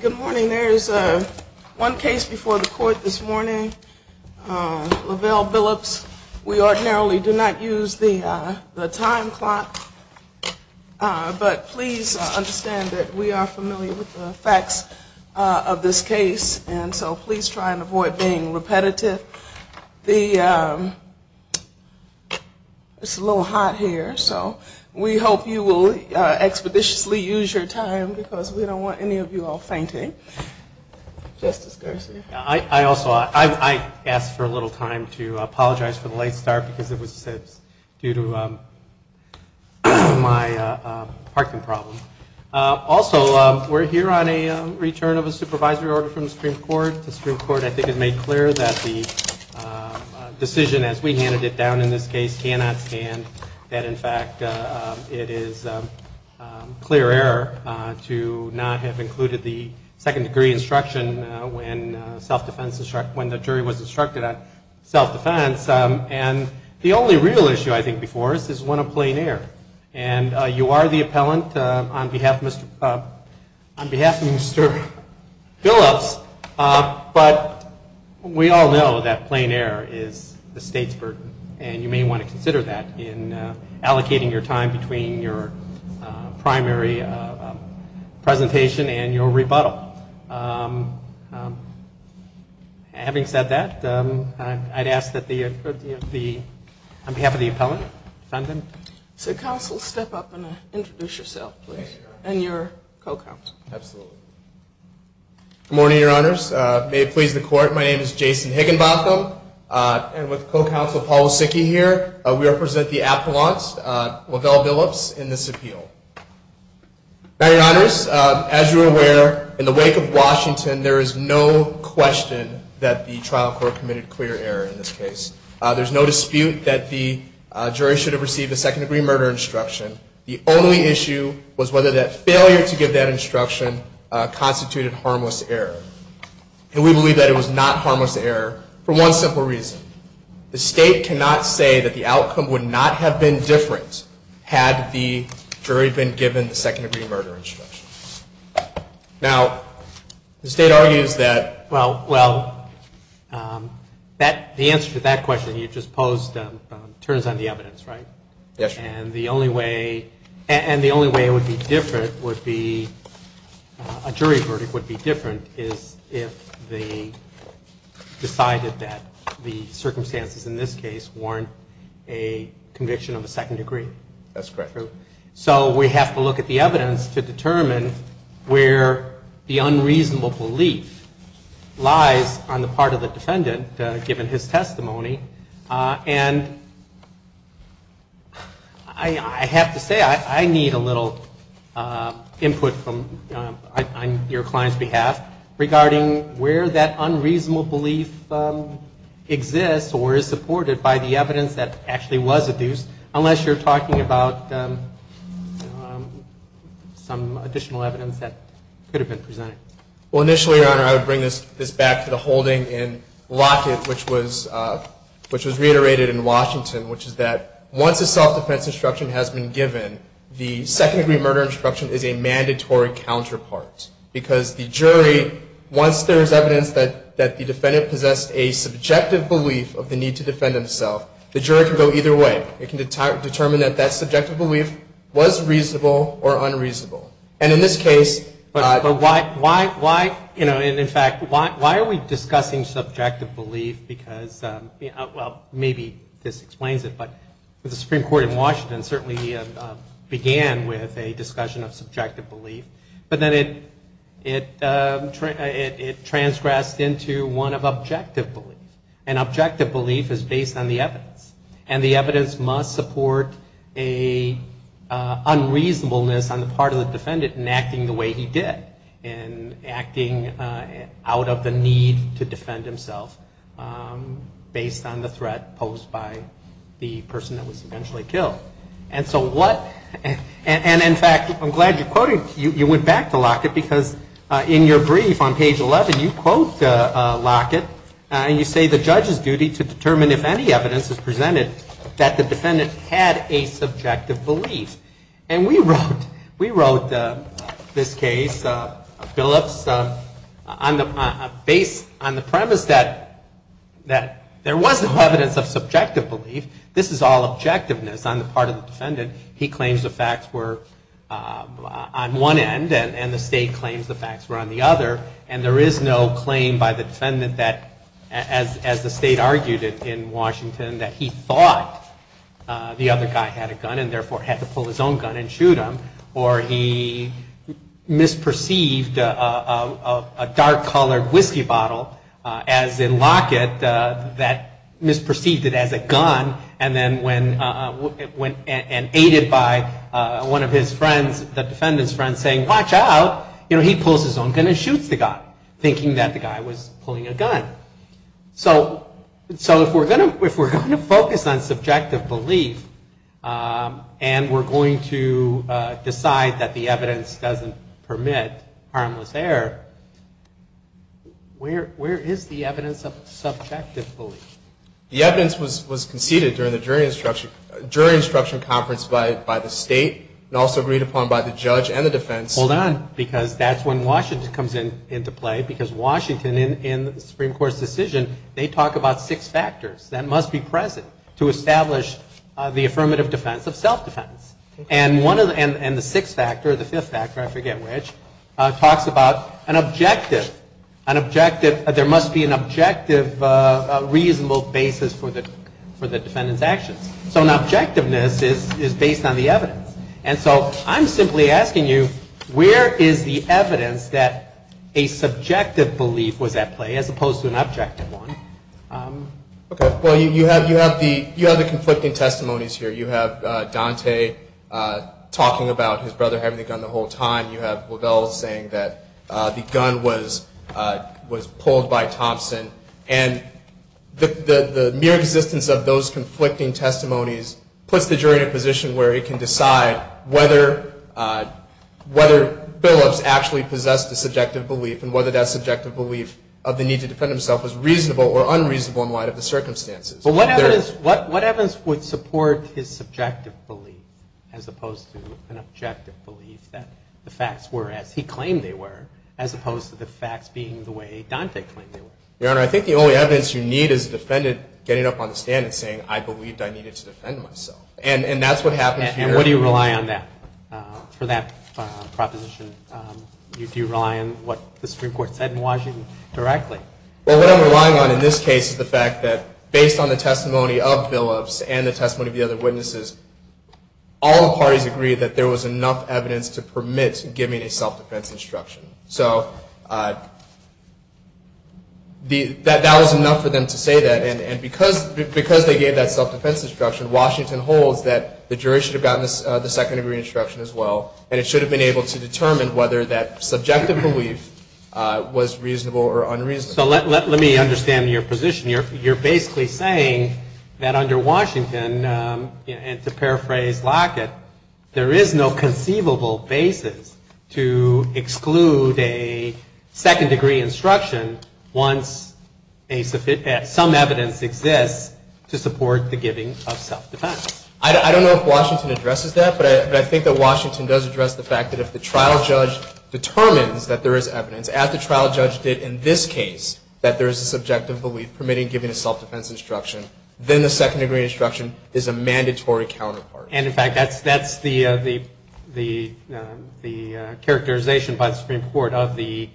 Good morning. There is one case before the court this morning, Lavelle-Billups. We ordinarily do not use the time clock, but please understand that we are familiar with the facts of this case, and so please try to understand the facts of this case. We're trying to avoid being repetitive. It's a little hot here, so we hope you will expeditiously use your time because we don't want any of you all fainting. Justice Garcia. The only real issue I think before us is one of plain air, and you are the appellant on behalf of Mr. Billups, but we all know that plain air is the state's burden, and you may want to consider that in allocating your time between your primary presentation and your rebuttal. Having said that, I'd ask that on behalf of the appellant, defendant. So counsel, step up and introduce yourself, please, and your co-counsel. Absolutely. Good morning, Your Honors. May it please the court, my name is Jason Higginbotham, and with co-counsel Paul Osicki here, we represent the appellants, Lavelle-Billups, in this appeal. Now, Your Honors, as you are aware, in the wake of Washington, there is no question that the trial court committed clear error in this case. There's no dispute that the jury should have received a second-degree murder instruction. The only issue was whether that failure to give that instruction constituted harmless error, and we believe that it was not harmless error for one simple reason. The state cannot say that the outcome would not have been different had the jury been given the second-degree murder instruction. Now, the state argues that... Well, well, the answer to that question you just posed turns on the evidence, right? Yes, Your Honor. And the only way it would be different would be... A jury verdict would be different is if they decided that the circumstances in this case warrant a conviction of a second degree. That's correct. So we have to look at the evidence to determine where the unreasonable belief lies on the part of the defendant, given his testimony. And I have to say, I need a little input on your client's behalf regarding where that unreasonable belief exists or is supported by the evidence that actually was presented. Well, initially, Your Honor, I would bring this back to the holding in Lockett, which was reiterated in Washington, which is that once a self-defense instruction has been given, the second-degree murder instruction is a mandatory counterpart. Because the jury, once there is evidence that the defendant possessed a subjective belief of the need to defend himself, the jury can go either way. It can determine that that subjective belief was reasonable or unreasonable. And in this case... But why, you know, and in fact, why are we discussing subjective belief? Because, well, maybe this explains it, but the Supreme Court in Washington certainly began with a discussion of subjective belief. But then it transgressed into one of objective belief. And objective belief is based on the evidence. And the evidence must support an unreasonableness on the part of the defendant in acting the way he did, in acting out of the need to defend himself based on the threat posed by the person that was eventually killed. And so what... And in fact, I'm glad you're quoting... It is the judge's duty to determine if any evidence is presented that the defendant had a subjective belief. And we wrote this case, Phillips, based on the premise that there was no evidence of subjective belief. This is all objectiveness on the part of the defendant. He claims the facts were on one end, and the State claims the facts were on the other. And there is no claim by the defendant that, as the State argued in Washington, that he thought the other guy had a gun and therefore had to pull his own gun and shoot him. Or he misperceived a dark-colored whiskey bottle as a locket, that misperceived it as a gun, and then when... And aided by one of his friends, the defendant's friend, saying, watch out, he pulls his own gun and shoots the guy, thinking that the guy was pulling a gun. So if we're going to focus on subjective belief and we're going to decide that the evidence doesn't permit harmless error, where is the evidence of subjective belief? The evidence was conceded during the jury instruction conference by the State and also agreed upon by the judge and the defense. Hold on, because that's when Washington comes into play, because Washington, in the Supreme Court's decision, they talk about six factors that must be present to establish the affirmative defense of self-defense. And the sixth factor, or the fifth factor, I forget which, talks about an objective. There must be an objective, reasonable basis for the defendant's actions. So an objectiveness is based on the evidence. And so I'm simply asking you, where is the evidence that a subjective belief was at play, as opposed to an objective one? Well, you have the conflicting testimonies here. You have Dante talking about his brother having the gun the whole time. You have Lavelle saying that the gun was pulled by Thompson. And the mere existence of those conflicting testimonies puts the jury in a position where it can decide whether Billups actually possessed a subjective belief and whether that subjective belief of the need to defend himself was reasonable or unreasonable in light of the circumstances. But what evidence would support his subjective belief, as opposed to an objective belief, that the facts were as he claimed they were, as opposed to the facts being the way Dante claimed they were? Your Honor, I think the only evidence you need is the defendant getting up on the stand and saying, I believed I needed to defend myself. And that's what happens here. And what do you rely on for that proposition? Do you rely on what the Supreme Court said in Washington directly? Well, what I'm relying on in this case is the fact that based on the testimony of Billups and the testimony of the other witnesses, all the parties agreed that there was enough evidence to permit giving a self-defense instruction. So that was enough for them to say that. And because they gave that self-defense instruction, Washington holds that the jury should have gotten the second-degree instruction as well, and it should have been able to determine whether that subjective belief was reasonable or unreasonable. So let me understand your position. You're basically saying that under Washington, and to paraphrase Lockett, there is no conceivable basis to exclude a second-degree instruction once some evidence exists to support the giving of self-defense. I don't know if Washington addresses that, but I think that Washington does address the fact that if the trial judge determines that there is evidence, as the trial judge did in this case, that there is a subjective belief permitting giving a self-defense instruction, then the second-degree instruction is a mandatory counterpart. And, in fact, that's the characterization by the Supreme Court of the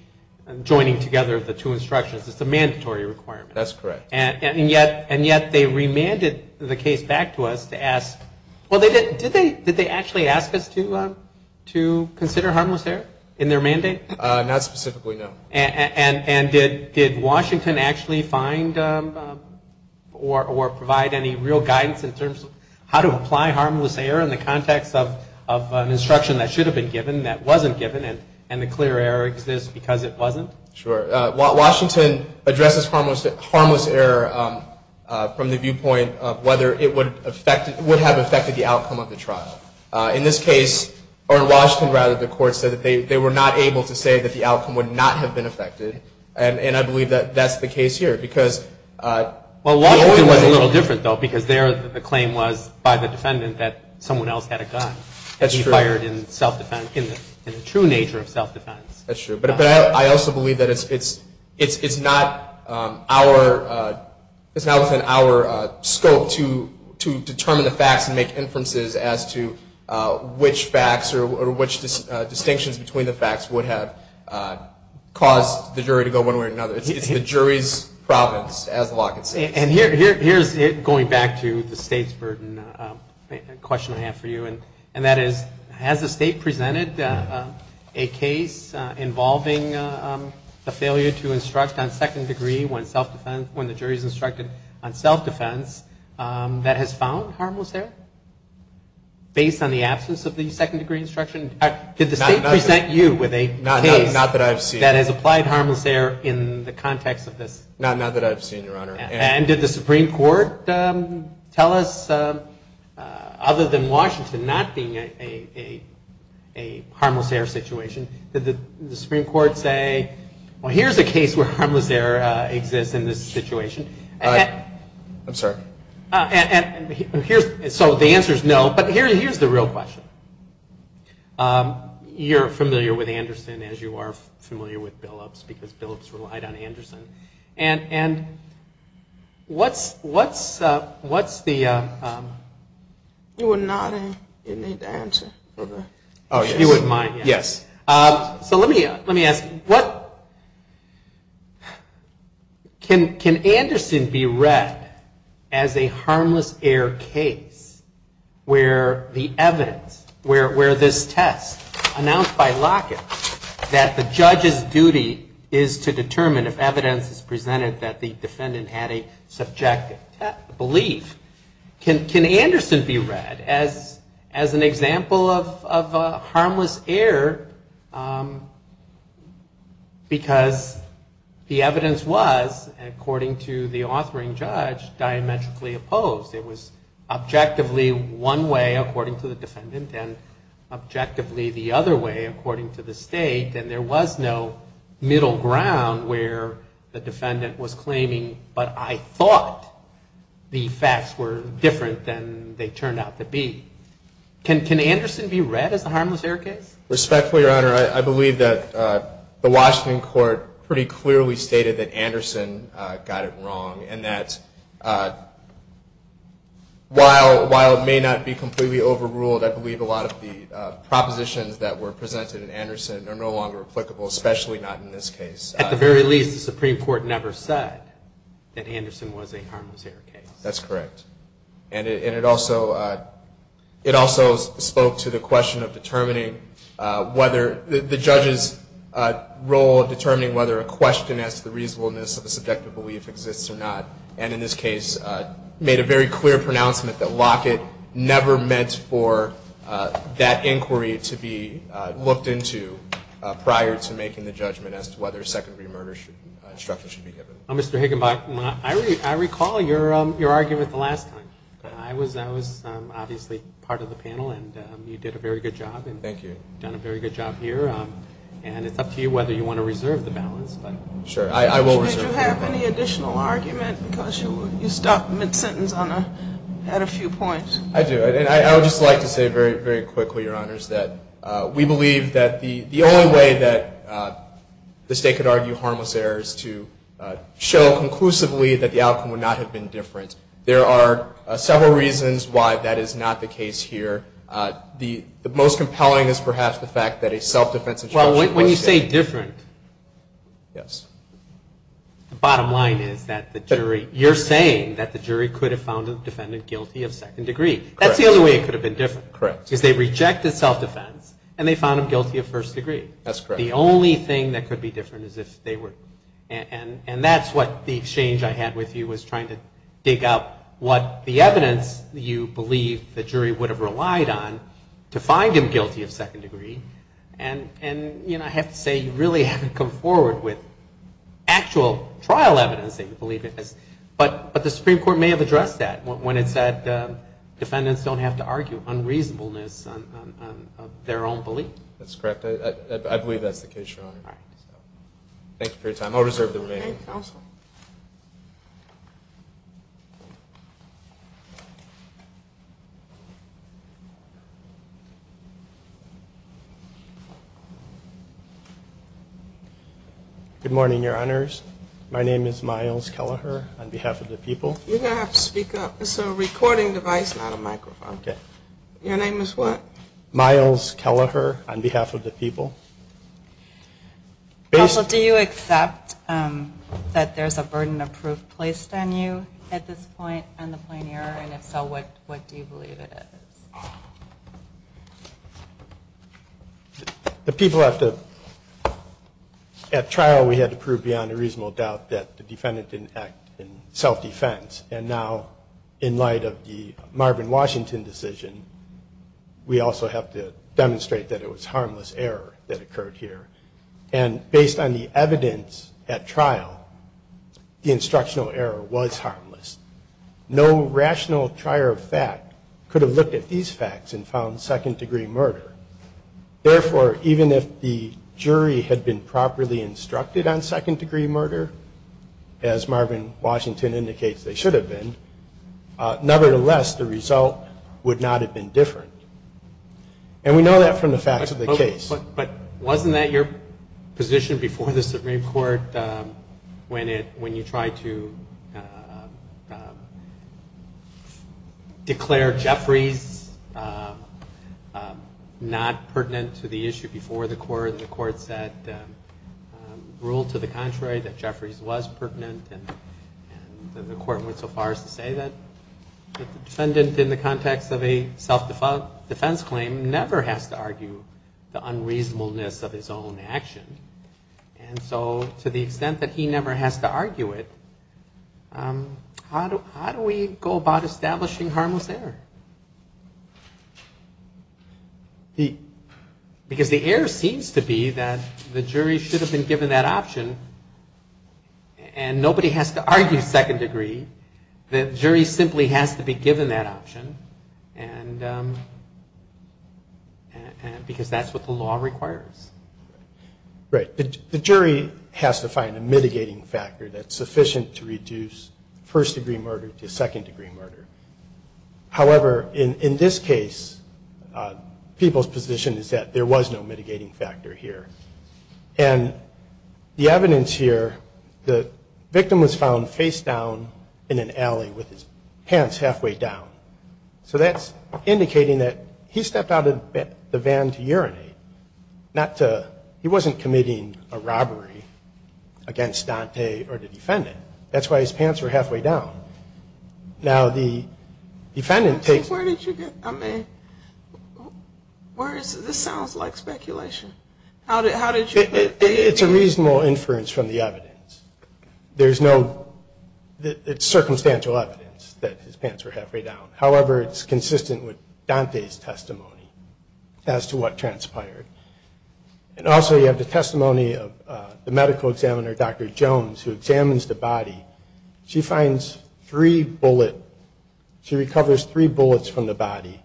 joining together of the two instructions. It's a mandatory requirement. That's correct. And yet they remanded the case back to us to ask – well, did they actually ask us to consider harmless error in their mandate? Not specifically, no. And did Washington actually find or provide any real guidance in terms of how to apply harmless error in the context of an instruction that should have been given that wasn't given and the clear error exists because it wasn't? Sure. Washington addresses harmless error from the viewpoint of whether it would have affected the outcome of the trial. In this case, or in Washington, rather, the court said that they were not able to say that the outcome would not have been affected. And I believe that that's the case here because – Well, Washington was a little different, though, because there the claim was by the defendant that someone else had a gun. That's true. That he fired in self-defense, in the true nature of self-defense. That's true. But I also believe that it's not our – it's not within our scope to determine the facts and make inferences as to which facts or which distinctions between the facts would have caused the jury to go one way or another. It's the jury's province, as the law concedes. And here's going back to the state's burden, a question I have for you, and that is has the state presented a case involving the failure to instruct on second degree when the jury is instructed on self-defense that has found harmless error based on the absence of the second-degree instruction? Did the state present you with a case that has applied harmless error in the context of this? Not that I've seen, Your Honor. And did the Supreme Court tell us, other than Washington not being a harmless error situation, did the Supreme Court say, well, here's a case where harmless error exists in this situation? I'm sorry? So the answer is no, but here's the real question. You're familiar with Anderson, as you are familiar with Billups, because Billups relied on Anderson. And what's the – You would not need to answer. You wouldn't mind. Yes. So let me ask you, can Anderson be read as a harmless error case where the evidence, where this test announced by Lockett that the judge's duty is to determine if evidence is presented that the defendant had a subjective belief, can Anderson be read as an example of harmless error because the evidence was, according to the authoring judge, diametrically opposed? It was objectively one way, according to the defendant, and objectively the other way, according to the state, and there was no middle ground where the defendant was claiming, but I thought the facts were different than they turned out to be. Can Anderson be read as a harmless error case? Respectfully, Your Honor, I believe that the Washington court pretty clearly stated that Anderson got it wrong, and that while it may not be completely overruled, I believe a lot of the propositions that were presented in Anderson are no longer applicable, especially not in this case. At the very least, the Supreme Court never said that Anderson was a harmless error case. That's correct. And it also spoke to the question of determining whether – the judge's role of determining whether a question as to the reasonableness of a subjective belief exists or not, and in this case made a very clear pronouncement that Lockett never meant for that inquiry to be looked into prior to making the judgment as to whether a secondary murder instruction should be given. Mr. Higginbotham, I recall your argument the last time. I was obviously part of the panel, and you did a very good job. Thank you. You've done a very good job here, and it's up to you whether you want to reserve the balance. Sure. I will reserve the balance. Did you have any additional argument? Because you stopped mid-sentence at a few points. I do. And I would just like to say very, very quickly, Your Honors, that we believe that the only way that the State could argue harmless error is to show conclusively that the outcome would not have been different. There are several reasons why that is not the case here. The most compelling is perhaps the fact that a self-defense instruction was given. It could have been different. Yes. The bottom line is that you're saying that the jury could have found the defendant guilty of second degree. That's the only way it could have been different. Correct. Because they rejected self-defense, and they found him guilty of first degree. That's correct. The only thing that could be different is if they were. And that's what the exchange I had with you was trying to dig up what the evidence you believe the jury would have relied on to find him guilty of second degree. And, you know, I have to say you really haven't come forward with actual trial evidence that you believe it is. But the Supreme Court may have addressed that when it said defendants don't have to argue unreasonableness of their own belief. That's correct. I believe that's the case, Your Honor. All right. Thank you for your time. I'll reserve the remaining time. Thank you, Counsel. Good morning, Your Honors. My name is Myles Kelleher on behalf of the people. You're going to have to speak up. It's a recording device, not a microphone. Okay. Your name is what? Myles Kelleher on behalf of the people. Counsel, do you accept that there's a burden of proof placed on you at this point on the plain error? And if so, what do you believe it is? The people have to at trial we had to prove beyond a reasonable doubt that the defendant didn't act in self-defense. And now in light of the Marvin Washington decision, we also have to demonstrate that it was harmless error that occurred here. And based on the evidence at trial, the instructional error was harmless. No rational trier of fact could have looked at these facts and found second-degree murder. Therefore, even if the jury had been properly instructed on second-degree murder, as Marvin Washington indicates they should have been, nevertheless, the result would not have been different. And we know that from the facts of the case. But wasn't that your position before the Supreme Court when you tried to declare Jeffries not pertinent to the issue before the court? And the court said rule to the contrary, that Jeffries was pertinent. And the court went so far as to say that the defendant in the context of a self-defense claim never has to argue the unreasonableness of his own action. And so to the extent that he never has to argue it, how do we go about establishing harmless error? Because the error seems to be that the jury should have been given that option and nobody has to argue second-degree. The jury simply has to be given that option. And because that's what the law requires. Right. The jury has to find a mitigating factor that's sufficient to reduce first-degree murder to second-degree murder. However, in this case, people's position is that there was no mitigating factor here. And the evidence here, the victim was found face down in an alley with his pants halfway down. So that's indicating that he stepped out of the van to urinate. He wasn't committing a robbery against Dante or the defendant. That's why his pants were halfway down. Now, the defendant takes... Where did you get, I mean, where is, this sounds like speculation. How did you... It's a reasonable inference from the evidence. There's no, it's circumstantial evidence that his pants were halfway down. However, it's consistent with Dante's testimony as to what transpired. And also you have the testimony of the medical examiner, Dr. Jones, who examines the body. She finds three bullet, she recovers three bullets from the body.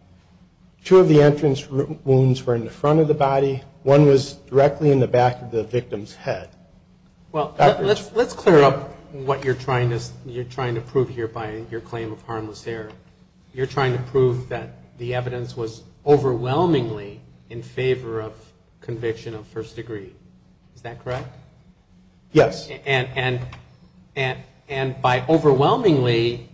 Two of the entrance wounds were in the front of the body. One was directly in the back of the victim's head. Well, let's clear up what you're trying to prove here by your claim of harmless error. You're trying to prove that the evidence was overwhelmingly in favor of conviction of first degree. Is that correct? Yes. And by overwhelmingly,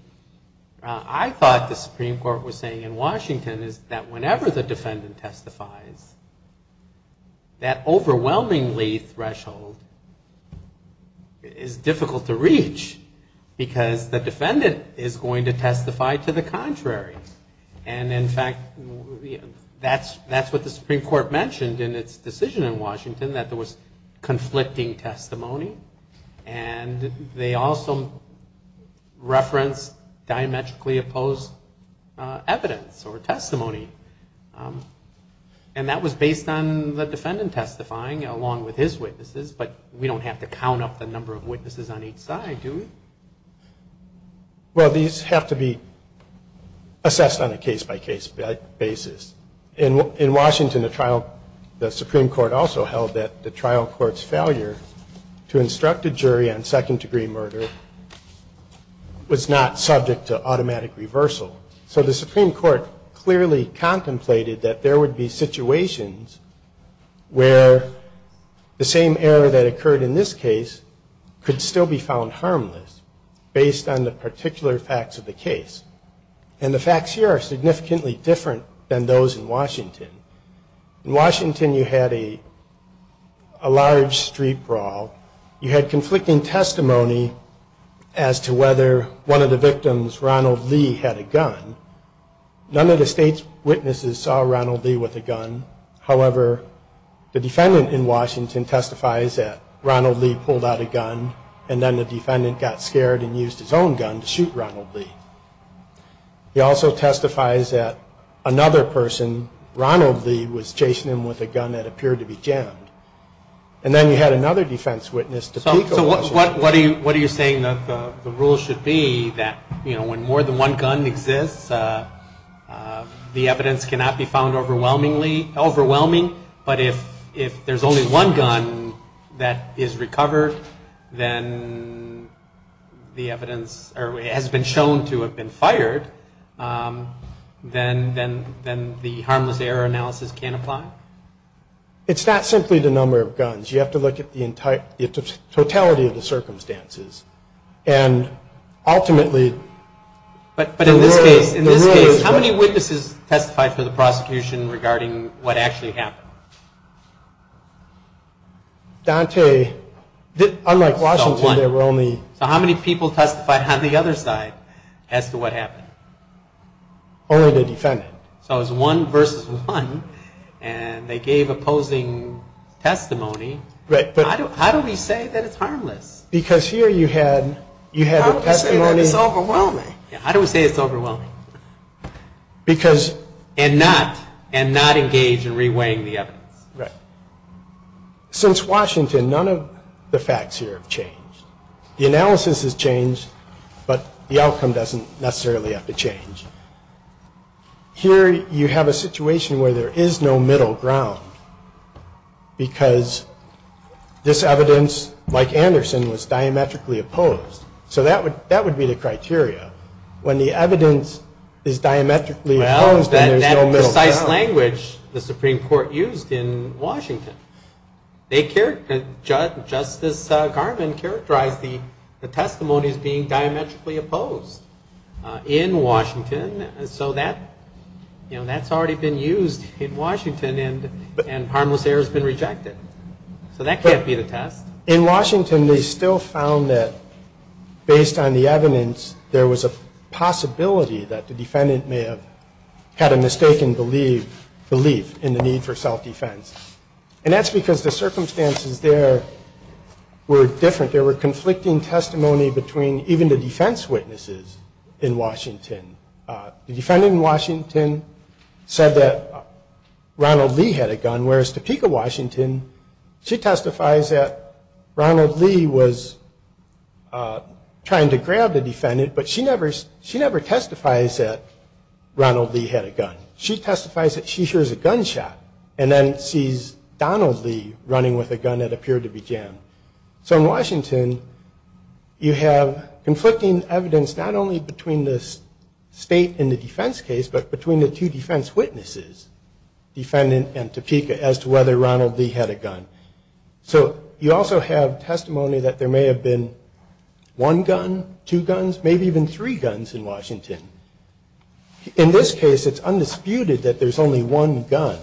I thought the Supreme Court was saying in Washington is that whenever the defendant testifies, that overwhelmingly threshold is difficult to reach because the defendant is going to testify to the contrary. And in fact, that's what the Supreme Court mentioned in its decision in Washington, that there was conflicting testimony. And they also referenced diametrically opposed evidence or testimony. And that was based on the defendant testifying along with his witnesses, but we don't have to count up the number of witnesses on each side, do we? Well, these have to be assessed on a case-by-case basis. In Washington, the Supreme Court also held that the trial court's failure to instruct a jury on second degree murder was not subject to automatic reversal. So the Supreme Court clearly contemplated that there would be situations where the same error that occurred in this case could still be found harmless based on the particular facts of the case. And the facts here are significantly different than those in Washington. In Washington, you had a large street brawl. You had conflicting testimony as to whether one of the victims, Ronald Lee, had a gun. None of the state's witnesses saw Ronald Lee with a gun. However, the defendant in Washington testifies that Ronald Lee pulled out a gun and then the defendant got scared and used his own gun to shoot Ronald Lee. He also testifies that another person, Ronald Lee, was chasing him with a gun that appeared to be jammed. And then you had another defense witness. So what are you saying the rule should be that, you know, when more than one gun exists, the evidence cannot be found overwhelmingly overwhelming, but if there's only one gun that is recovered, then the evidence has been shown to have been fired, then the harmless error analysis can't apply? It's not simply the number of guns. You have to look at the totality of the circumstances. And ultimately... But in this case, how many witnesses testified for the prosecution regarding what actually happened? Dante, unlike Washington, there were only... So how many people testified on the other side as to what happened? Only the defendant. So it was one versus one, and they gave opposing testimony. How do we say that it's harmless? Because here you had... How do we say that it's overwhelming? How do we say it's overwhelming? Because... And not engage in reweighing the evidence. Right. Since Washington, none of the facts here have changed. The analysis has changed, but the outcome doesn't necessarily have to change. Here you have a situation where there is no middle ground, because this evidence, like Anderson, was diametrically opposed. So that would be the criteria. When the evidence is diametrically opposed, then there's no middle ground. Well, that precise language the Supreme Court used in Washington. Justice Garvin characterized the testimonies being diametrically opposed in Washington, so that's already been used in Washington, and harmless error has been rejected. So that can't be the test. In Washington, they still found that, based on the evidence, there was a possibility that the defendant may have had a mistaken belief in the need for self-defense. And that's because the circumstances there were different. There were conflicting testimony between even the defense witnesses in Washington. The defendant in Washington said that Ronald Lee had a gun, whereas Topeka, Washington, she testifies that Ronald Lee was trying to grab the defendant, but she never testifies that Ronald Lee had a gun. She testifies that she hears a gunshot, and then sees Donald Lee running with a gun that appeared to be jammed. So in Washington, you have conflicting evidence not only between the state and the defense case, but between the two defense witnesses, defendant and Topeka, as to whether Ronald Lee had a gun. So you also have testimony that there may have been one gun, two guns, maybe even three guns in Washington. In this case, it's undisputed that there's only one gun.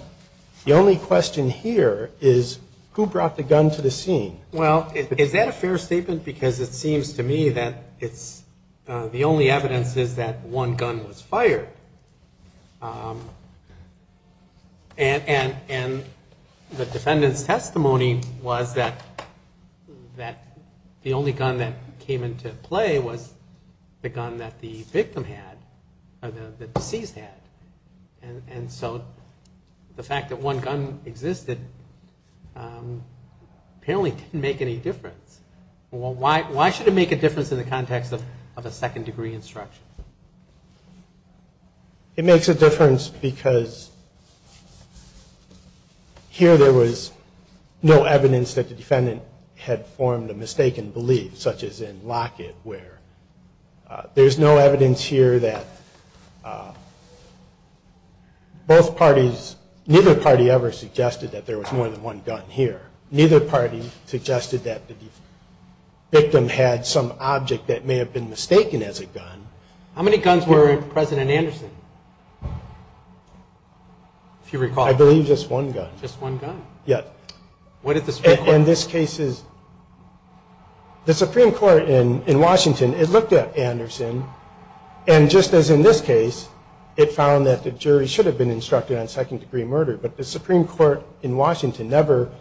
The only question here is, who brought the gun to the scene? Well, is that a fair statement? Because it seems to me that the only evidence is that one gun was fired. And the defendant's testimony was that the only gun that came into play was the gun that the victim had, or the deceased had. And so the fact that one gun existed apparently didn't make any difference. Well, why should it make a difference in the context of a second-degree instruction? It makes a difference because here there was no evidence that the defendant had formed a mistaken belief, such as in Lockett, where there's no evidence here that both parties, neither party ever suggested that there was more than one gun here. Neither party suggested that the victim had some object that may have been mistaken as a gun. How many guns were in President Anderson, if you recall? I believe just one gun. Just one gun? Yeah. What did the statement say? In this case, the Supreme Court in Washington, it looked at Anderson, and just as in this case, it found that the jury should have been instructed on second-degree murder, but the Supreme Court in Washington never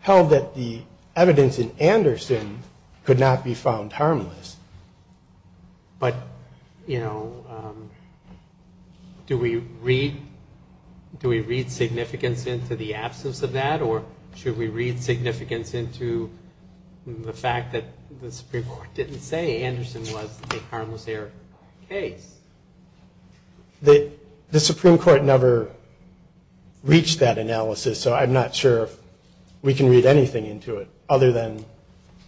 held that the evidence in Anderson could not be found harmless. But, you know, do we read significance into the absence of that, or should we read significance into the fact that the Supreme Court didn't say Anderson was a harmless error case? The Supreme Court never reached that analysis, so I'm not sure if we can read anything into it other than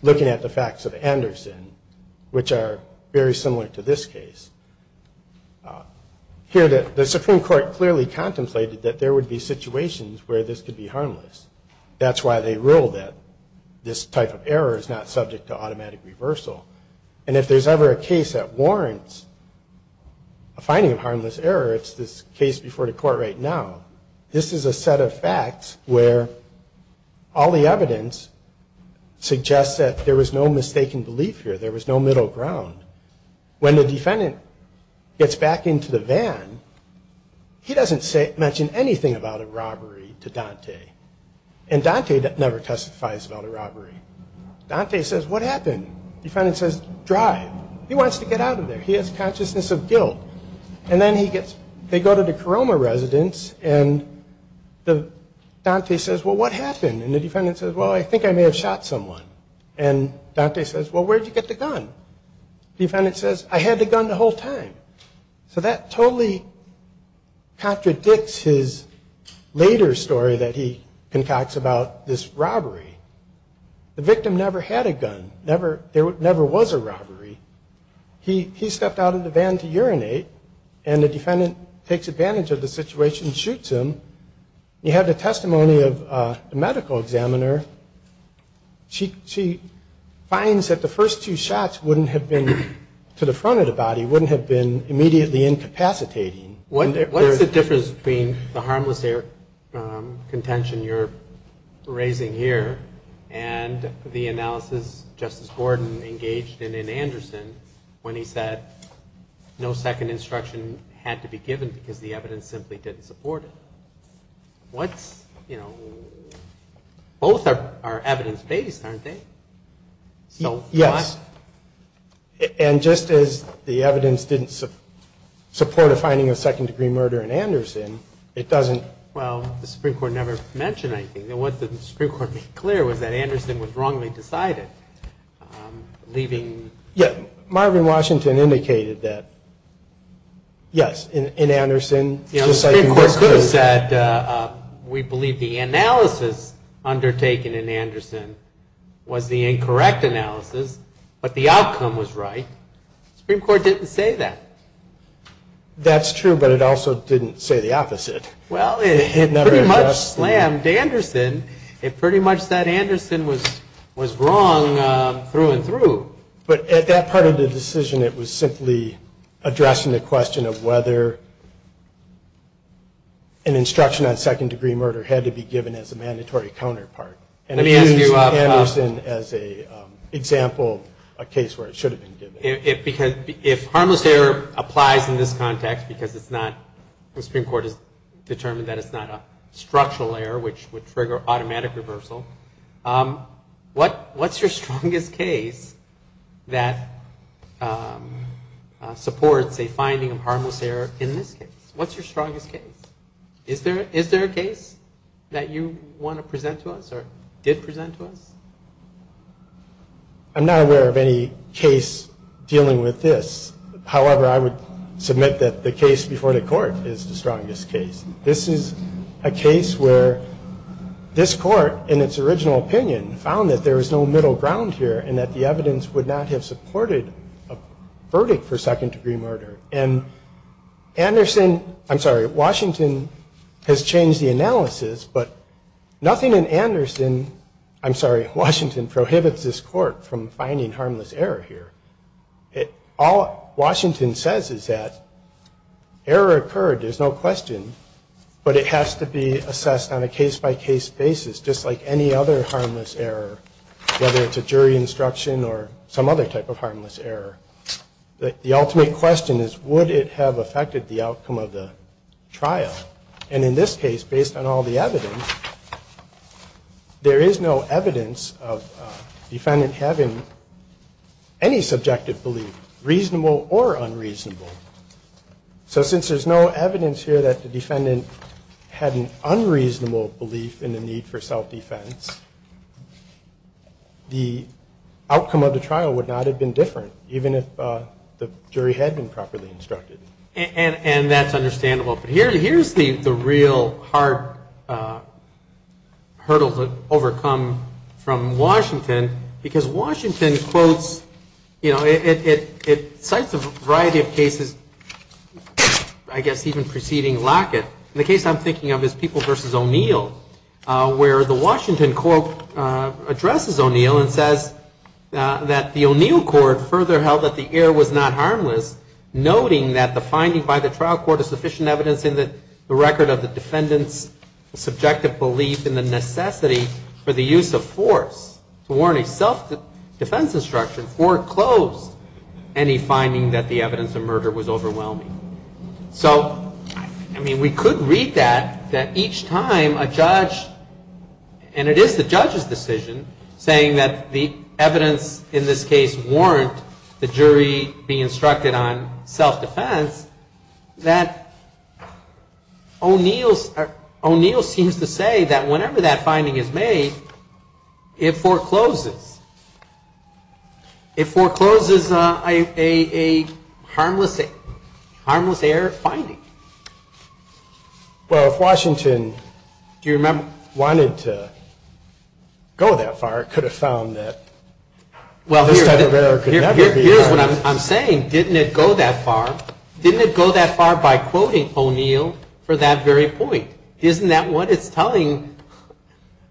looking at the facts of Anderson, which are very similar to this case. Here, the Supreme Court clearly contemplated that there would be situations where this could be harmless. That's why they ruled that this type of error is not subject to automatic reversal. And if there's ever a case that warrants a finding of harmless error, it's this case before the court right now. This is a set of facts where all the evidence suggests that there was no mistaken belief here. There was no middle ground. When the defendant gets back into the van, he doesn't mention anything about a robbery to Dante, and Dante never testifies about a robbery. Dante says, what happened? The defendant says, drive. He wants to get out of there. He has consciousness of guilt. And then they go to the Koroma residence, and Dante says, well, what happened? And the defendant says, well, I think I may have shot someone. And Dante says, well, where did you get the gun? The defendant says, I had the gun the whole time. So that totally contradicts his later story that he concocts about this robbery. The victim never had a gun. There never was a robbery. He stepped out of the van to urinate, and the defendant takes advantage of the situation and shoots him. You have the testimony of the medical examiner. She finds that the first two shots wouldn't have been to the front of the body, wouldn't have been immediately incapacitating. What's the difference between the harmless error contention you're raising here and the analysis Justice Gordon engaged in in Anderson when he said, no second instruction had to be given because the evidence simply didn't support it? What's, you know, both are evidence-based, aren't they? So why? Yes. And just as the evidence didn't support a finding of second-degree murder in Anderson, it doesn't. Well, the Supreme Court never mentioned anything. What the Supreme Court made clear was that Anderson was wrongly decided, leaving. Marvin Washington indicated that, yes, in Anderson. The Supreme Court could have said we believe the analysis undertaken in Anderson was the incorrect analysis, but the outcome was right. The Supreme Court didn't say that. That's true, but it also didn't say the opposite. Well, it pretty much slammed Anderson. It pretty much said Anderson was wrong through and through. But at that part of the decision, it was simply addressing the question of whether an instruction on second-degree murder had to be given as a mandatory counterpart. And it used Anderson as an example, a case where it should have been given. If harmless error applies in this context because it's not, the Supreme Court has determined that it's not a structural error which would trigger automatic reversal, what's your strongest case that supports a finding of harmless error in this case? What's your strongest case? Is there a case that you want to present to us or did present to us? I'm not aware of any case dealing with this. However, I would submit that the case before the court is the strongest case. This is a case where this court, in its original opinion, found that there was no middle ground here and that the evidence would not have supported a verdict for second-degree murder. And Anderson, I'm sorry, Washington has changed the analysis, but nothing in Anderson, I'm sorry, Washington prohibits this court from finding harmless error here. All Washington says is that error occurred, there's no question, but it has to be assessed on a case-by-case basis just like any other harmless error, whether it's a jury instruction or some other type of harmless error. The ultimate question is would it have affected the outcome of the trial? And in this case, based on all the evidence, there is no evidence of the defendant having any subjective belief, reasonable or unreasonable. So since there's no evidence here that the defendant had an unreasonable belief in the need for self-defense, the outcome of the trial would not have been different, even if the jury had been properly instructed. And that's understandable. But here's the real hard hurdle to overcome from Washington, because Washington quotes, you know, it cites a variety of cases, I guess even preceding Lockett. The case I'm thinking of is People v. O'Neill, where the Washington quote addresses O'Neill and says that the O'Neill court further held that the error was not harmless, noting that the finding by the trial court is sufficient evidence in the record of the defendant's subjective belief in the necessity for the use of force to warrant a self-defense instruction foreclosed any finding that the evidence of murder was overwhelming. So, I mean, we could read that, that each time a judge, and it is the judge's decision, saying that the evidence in this case warrant the jury be instructed on self-defense, that O'Neill seems to say that whenever that finding is made, it forecloses. It forecloses a harmless error finding. Well, if Washington wanted to go that far, could have found that this type of error could never be harmless. Here's what I'm saying. Didn't it go that far? Didn't it go that far by quoting O'Neill for that very point? Isn't that what it's telling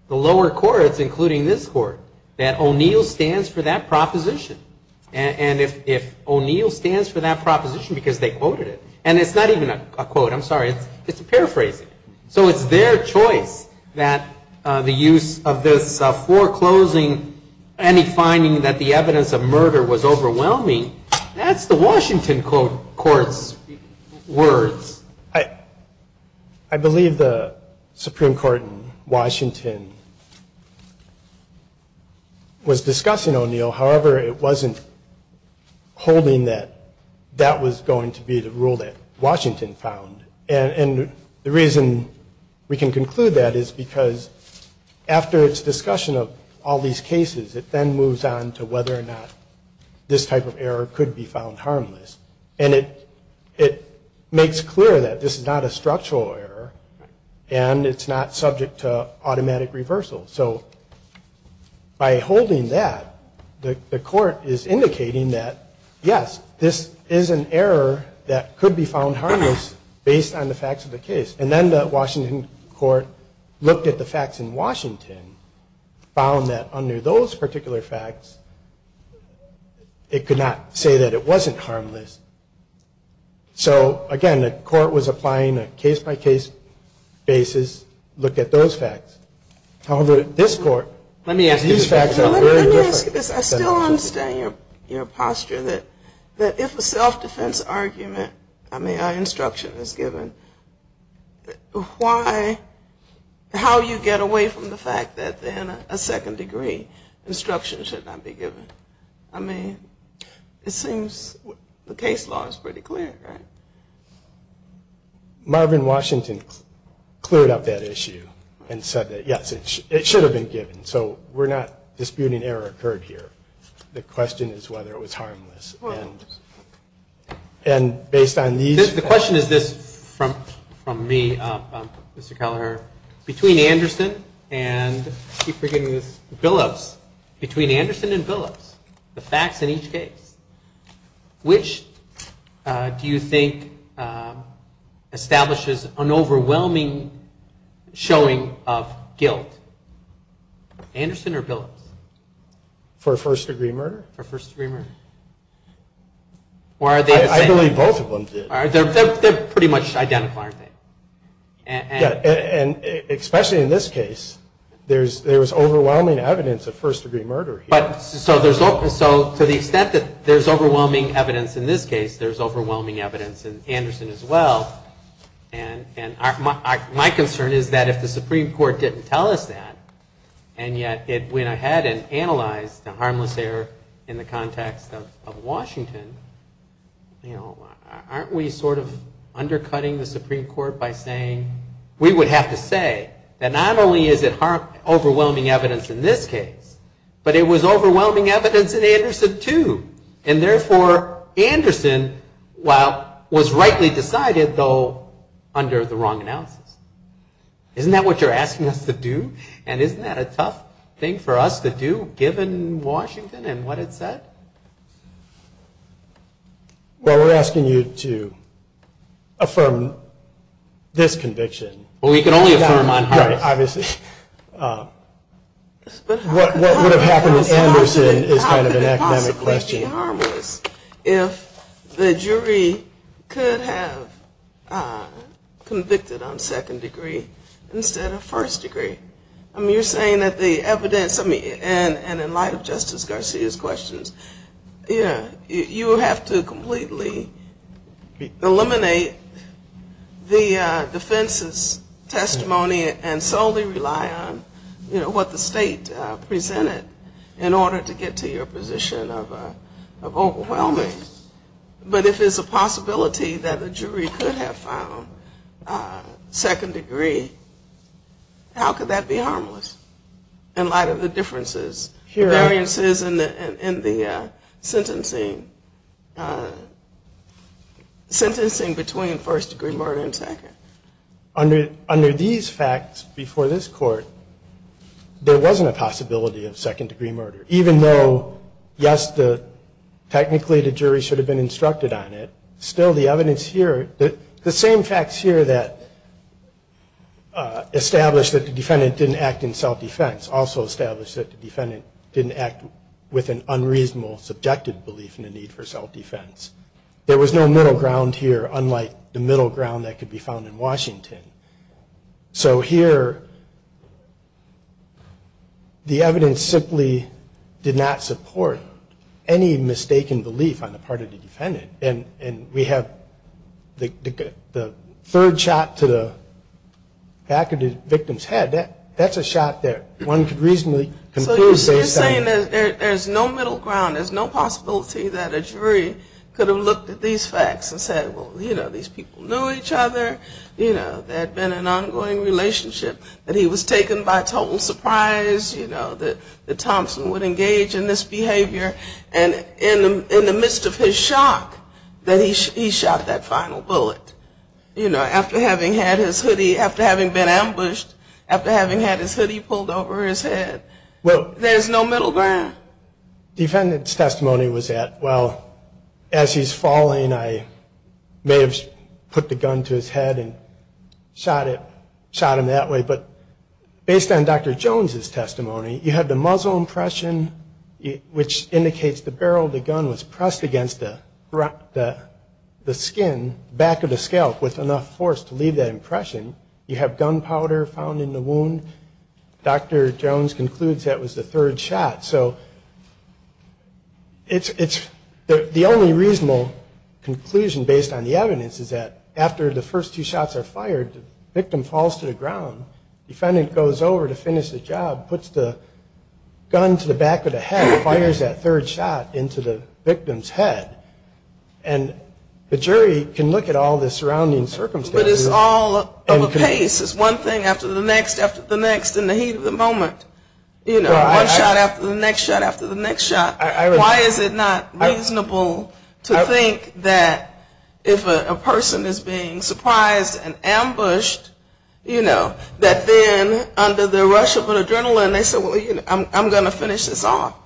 the lower courts, including this court, that O'Neill stands for that proposition? And if O'Neill stands for that proposition because they quoted it, and it's not even a quote, I'm sorry, it's a paraphrase. So it's their choice that the use of this foreclosing any finding that the evidence of murder was overwhelming, that's the Washington court's words. I believe the Supreme Court in Washington was discussing O'Neill. However, it wasn't holding that that was going to be the rule that Washington found. And the reason we can conclude that is because after its discussion of all these cases, it then moves on to whether or not this type of error could be found harmless. And it makes clear that this is not a structural error, and it's not subject to automatic reversal. So by holding that, the court is indicating that, yes, this is an error that could be found harmless based on the facts of the case. And then the Washington court looked at the facts in Washington, found that under those particular facts, it could not say that it wasn't harmless. So, again, the court was applying a case-by-case basis, looked at those facts. However, this court, these facts are very different. Let me ask you this. I still understand your posture that if a self-defense argument, I mean, an instruction is given, how do you get away from the fact that then a second-degree instruction should not be given? I mean, it seems the case law is pretty clear, right? Marvin Washington cleared up that issue and said that, yes, it should have been given. So we're not disputing error occurred here. The question is whether it was harmless. And based on these- The question is this from me, Mr. Kelleher. Between Anderson and, I keep forgetting this, Billups, between Anderson and Billups, the facts in each case, which do you think establishes an overwhelming showing of guilt? Anderson or Billups? For first-degree murder? For first-degree murder. Or are they the same? I believe both of them did. They're pretty much identical, aren't they? And especially in this case, there was overwhelming evidence of first-degree murder here. So to the extent that there's overwhelming evidence in this case, there's overwhelming evidence in Anderson as well. And my concern is that if the Supreme Court didn't tell us that, and yet it went ahead and analyzed the harmless error in the context of Washington, aren't we sort of undercutting the Supreme Court by saying- We would have to say that not only is it overwhelming evidence in this case, but it was overwhelming evidence in Anderson, too. And therefore, Anderson was rightly decided, though, under the wrong analysis. Isn't that what you're asking us to do? And isn't that a tough thing for us to do, given Washington and what it said? Well, we're asking you to affirm this conviction. Well, we can only affirm on Harris. Right, obviously. What would have happened in Anderson is kind of an academic question. How could it possibly be harmless if the jury could have convicted on second-degree instead of first-degree? I mean, you're saying that the evidence, and in light of Justice Garcia's questions, you would have to completely eliminate the defense's testimony and solely rely on what the state presented in order to get to your position of overwhelming. But if there's a possibility that the jury could have found second-degree, how could that be harmless in light of the differences, the variances in the sentencing between first-degree murder and second? Under these facts before this Court, there wasn't a possibility of second-degree murder, even though, yes, technically the jury should have been instructed on it. Still, the evidence here, the same facts here that establish that the defendant didn't act in self-defense also establish that the defendant didn't act with an unreasonable, subjective belief in the need for self-defense. There was no middle ground here, unlike the middle ground that could be found in Washington. So here, the evidence simply did not support any mistaken belief on the part of the defendant. And we have the third shot to the back of the victim's head. That's a shot that one could reasonably conclude based on... So you're saying that there's no middle ground, there's no possibility that a jury could have looked at these facts and said, well, you know, these people knew each other, you know, there had been an ongoing relationship, that he was taken by total surprise, you know, that Thompson would engage in this behavior. And in the midst of his shock that he shot that final bullet, you know, after having had his hoodie, after having been ambushed, after having had his hoodie pulled over his head, there's no middle ground. The defendant's testimony was that, well, as he's falling, I may have put the gun to his head and shot him that way. But based on Dr. Jones' testimony, you have the muzzle impression, which indicates the barrel of the gun was pressed against the skin, back of the scalp, with enough force to leave that impression. You have gunpowder found in the wound. Dr. Jones concludes that was the third shot. So the only reasonable conclusion based on the evidence is that after the first two shots are fired, the victim falls to the ground. Defendant goes over to finish the job, puts the gun to the back of the head, fires that third shot into the victim's head. And the jury can look at all the surrounding circumstances. But it's all of a pace. It's one thing after the next after the next in the heat of the moment. You know, one shot after the next shot after the next shot. Why is it not reasonable to think that if a person is being surprised and ambushed, you know, that then under the rush of adrenaline they say, well, you know, I'm going to finish this off.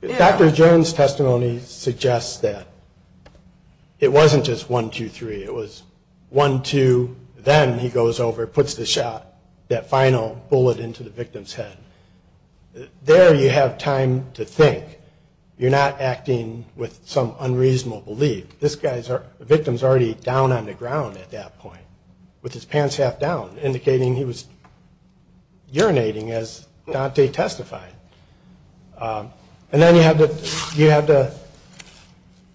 Dr. Jones' testimony suggests that it wasn't just one, two, three. It was one, two, then he goes over, puts the shot, that final bullet into the victim's head. There you have time to think. You're not acting with some unreasonable belief. The victim is already down on the ground at that point with his pants half down, indicating he was urinating as Dante testified. And then you have the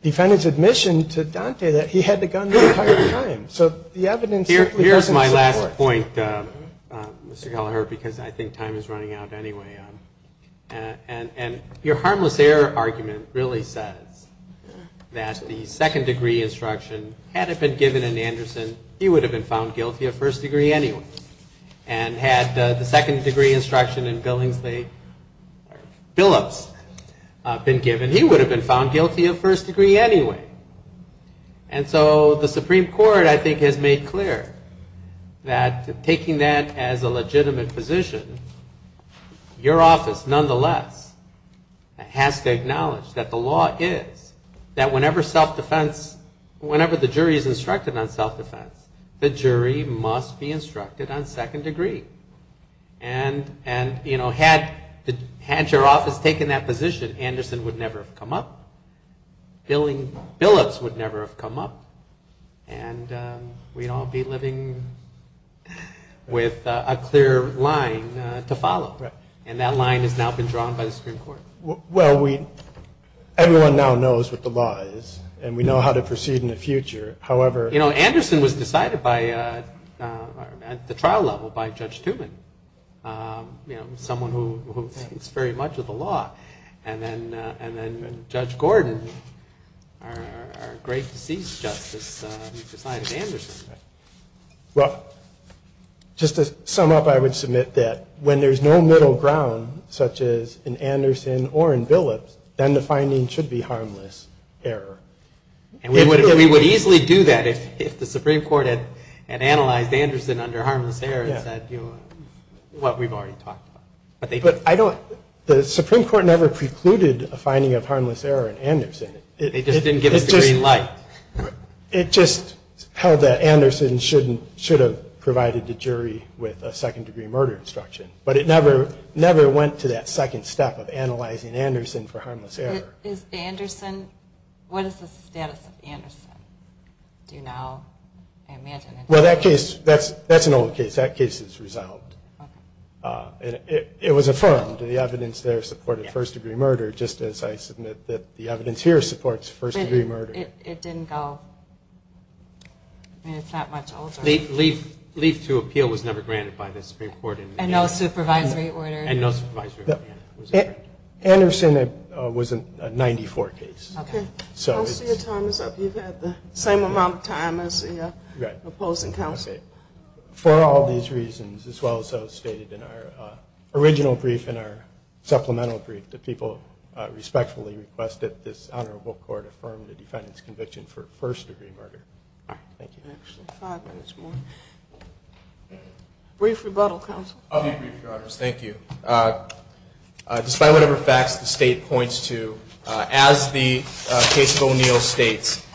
defendant's admission to Dante that he had the gun the entire time. Here's my last point, Mr. Kelleher, because I think time is running out anyway. And your harmless error argument really says that the second degree instruction, had it been given in Anderson, he would have been found guilty of first degree anyway. And had the second degree instruction in Billingsley, Billups, been given, he would have been found guilty of first degree anyway. And so the Supreme Court, I think, has made clear that taking that as a legitimate position, your office, nonetheless, has to acknowledge that the law is that whenever self-defense, whenever the jury is instructed on self-defense, the jury must be instructed on second degree. And, you know, had your office taken that position, Anderson would never have come up. Billingsley, Billups would never have come up. And we'd all be living with a clear line to follow. And that line has now been drawn by the Supreme Court. Well, everyone now knows what the law is, and we know how to proceed in the future. However— You know, Anderson was decided at the trial level by Judge Tuman, someone who thinks very much of the law. And then Judge Gordon, our great deceased justice, decided Anderson. Well, just to sum up, I would submit that when there's no middle ground, such as in Anderson or in Billups, then the finding should be harmless error. And we would easily do that if the Supreme Court had analyzed Anderson under harmless error and said, you know, what we've already talked about. But I don't—the Supreme Court never precluded a finding of harmless error in Anderson. They just didn't give us the green light. It just held that Anderson should have provided the jury with a second degree murder instruction. But it never went to that second step of analyzing Anderson for harmless error. Is Anderson—what is the status of Anderson? Do you know? Well, that case—that's an old case. That case is resolved. It was affirmed. The evidence there supported first degree murder, just as I submit that the evidence here supports first degree murder. But it didn't go. I mean, it's that much older. Leave to appeal was never granted by the Supreme Court. And no supervisory order. And no supervisory order. Anderson was a 94 case. Okay. Most of your time is up. You've had the same amount of time as the opposing counsel. Okay. For all these reasons, as well as those stated in our original brief and our supplemental brief, the people respectfully request that this honorable court affirm the defendant's conviction for first degree murder. Thank you. Actually, five minutes more. Brief rebuttal, counsel. I'll be brief, Your Honors. Thank you. Despite whatever facts the state points to, as the case of O'Neill states,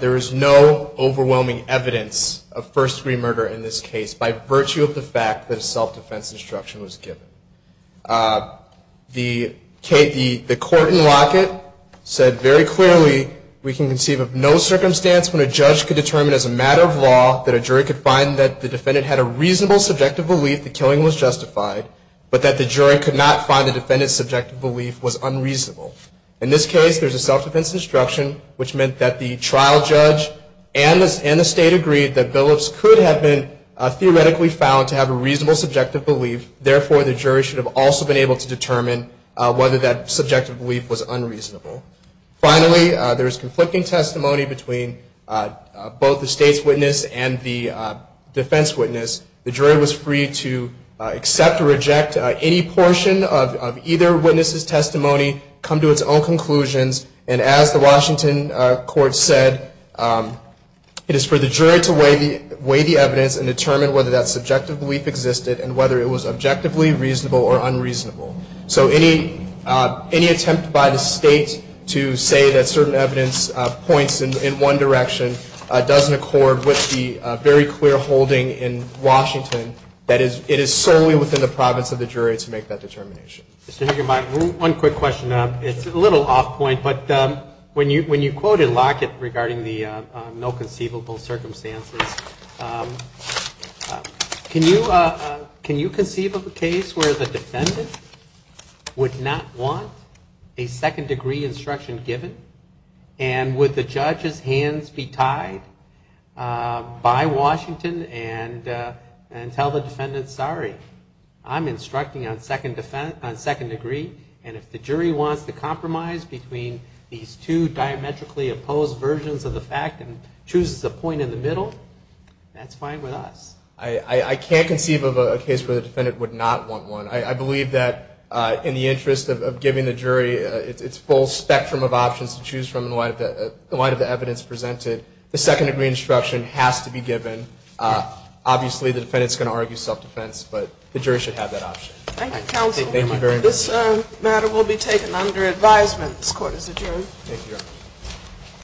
there is no overwhelming evidence of first degree murder in this case, by virtue of the fact that a self-defense instruction was given. The court in Lockett said very clearly, we can conceive of no circumstance when a judge could determine as a matter of law that a jury could find that the defendant had a reasonable subjective belief the killing was justified, but that the jury could not find the defendant's subjective belief was unreasonable. In this case, there's a self-defense instruction, which meant that the trial judge and the state agreed that Billups could have been theoretically found to have a reasonable subjective belief. Therefore, the jury should have also been able to determine whether that subjective belief was unreasonable. Finally, there is conflicting testimony between both the state's witness and the defense witness. The jury was free to accept or reject any portion of either witness's testimony, come to its own conclusions, and as the Washington court said, it is for the jury to weigh the evidence and determine whether that subjective belief existed and whether it was objectively reasonable or unreasonable. So any attempt by the state to say that certain evidence points in one direction doesn't accord with the very clear holding in Washington that it is solely within the province of the jury to make that determination. One quick question. It's a little off point, but when you quoted Lockett regarding the no conceivable circumstances, can you conceive of a case where the defendant would not want a second degree instruction given and would the judge's hands be tied by Washington and tell the defendant, sorry, I'm instructing on second degree, and if the jury wants to compromise between these two diametrically opposed versions of the fact and chooses a point in the middle, that's fine with us? I can't conceive of a case where the defendant would not want one. I believe that in the interest of giving the jury its full spectrum of options to choose from in the light of the evidence presented, the second degree instruction has to be given. Obviously, the defendant is going to argue self-defense, but the jury should have that option. Thank you, counsel. Thank you very much. This matter will be taken under advisement. This Court is adjourned. Thank you, Your Honor.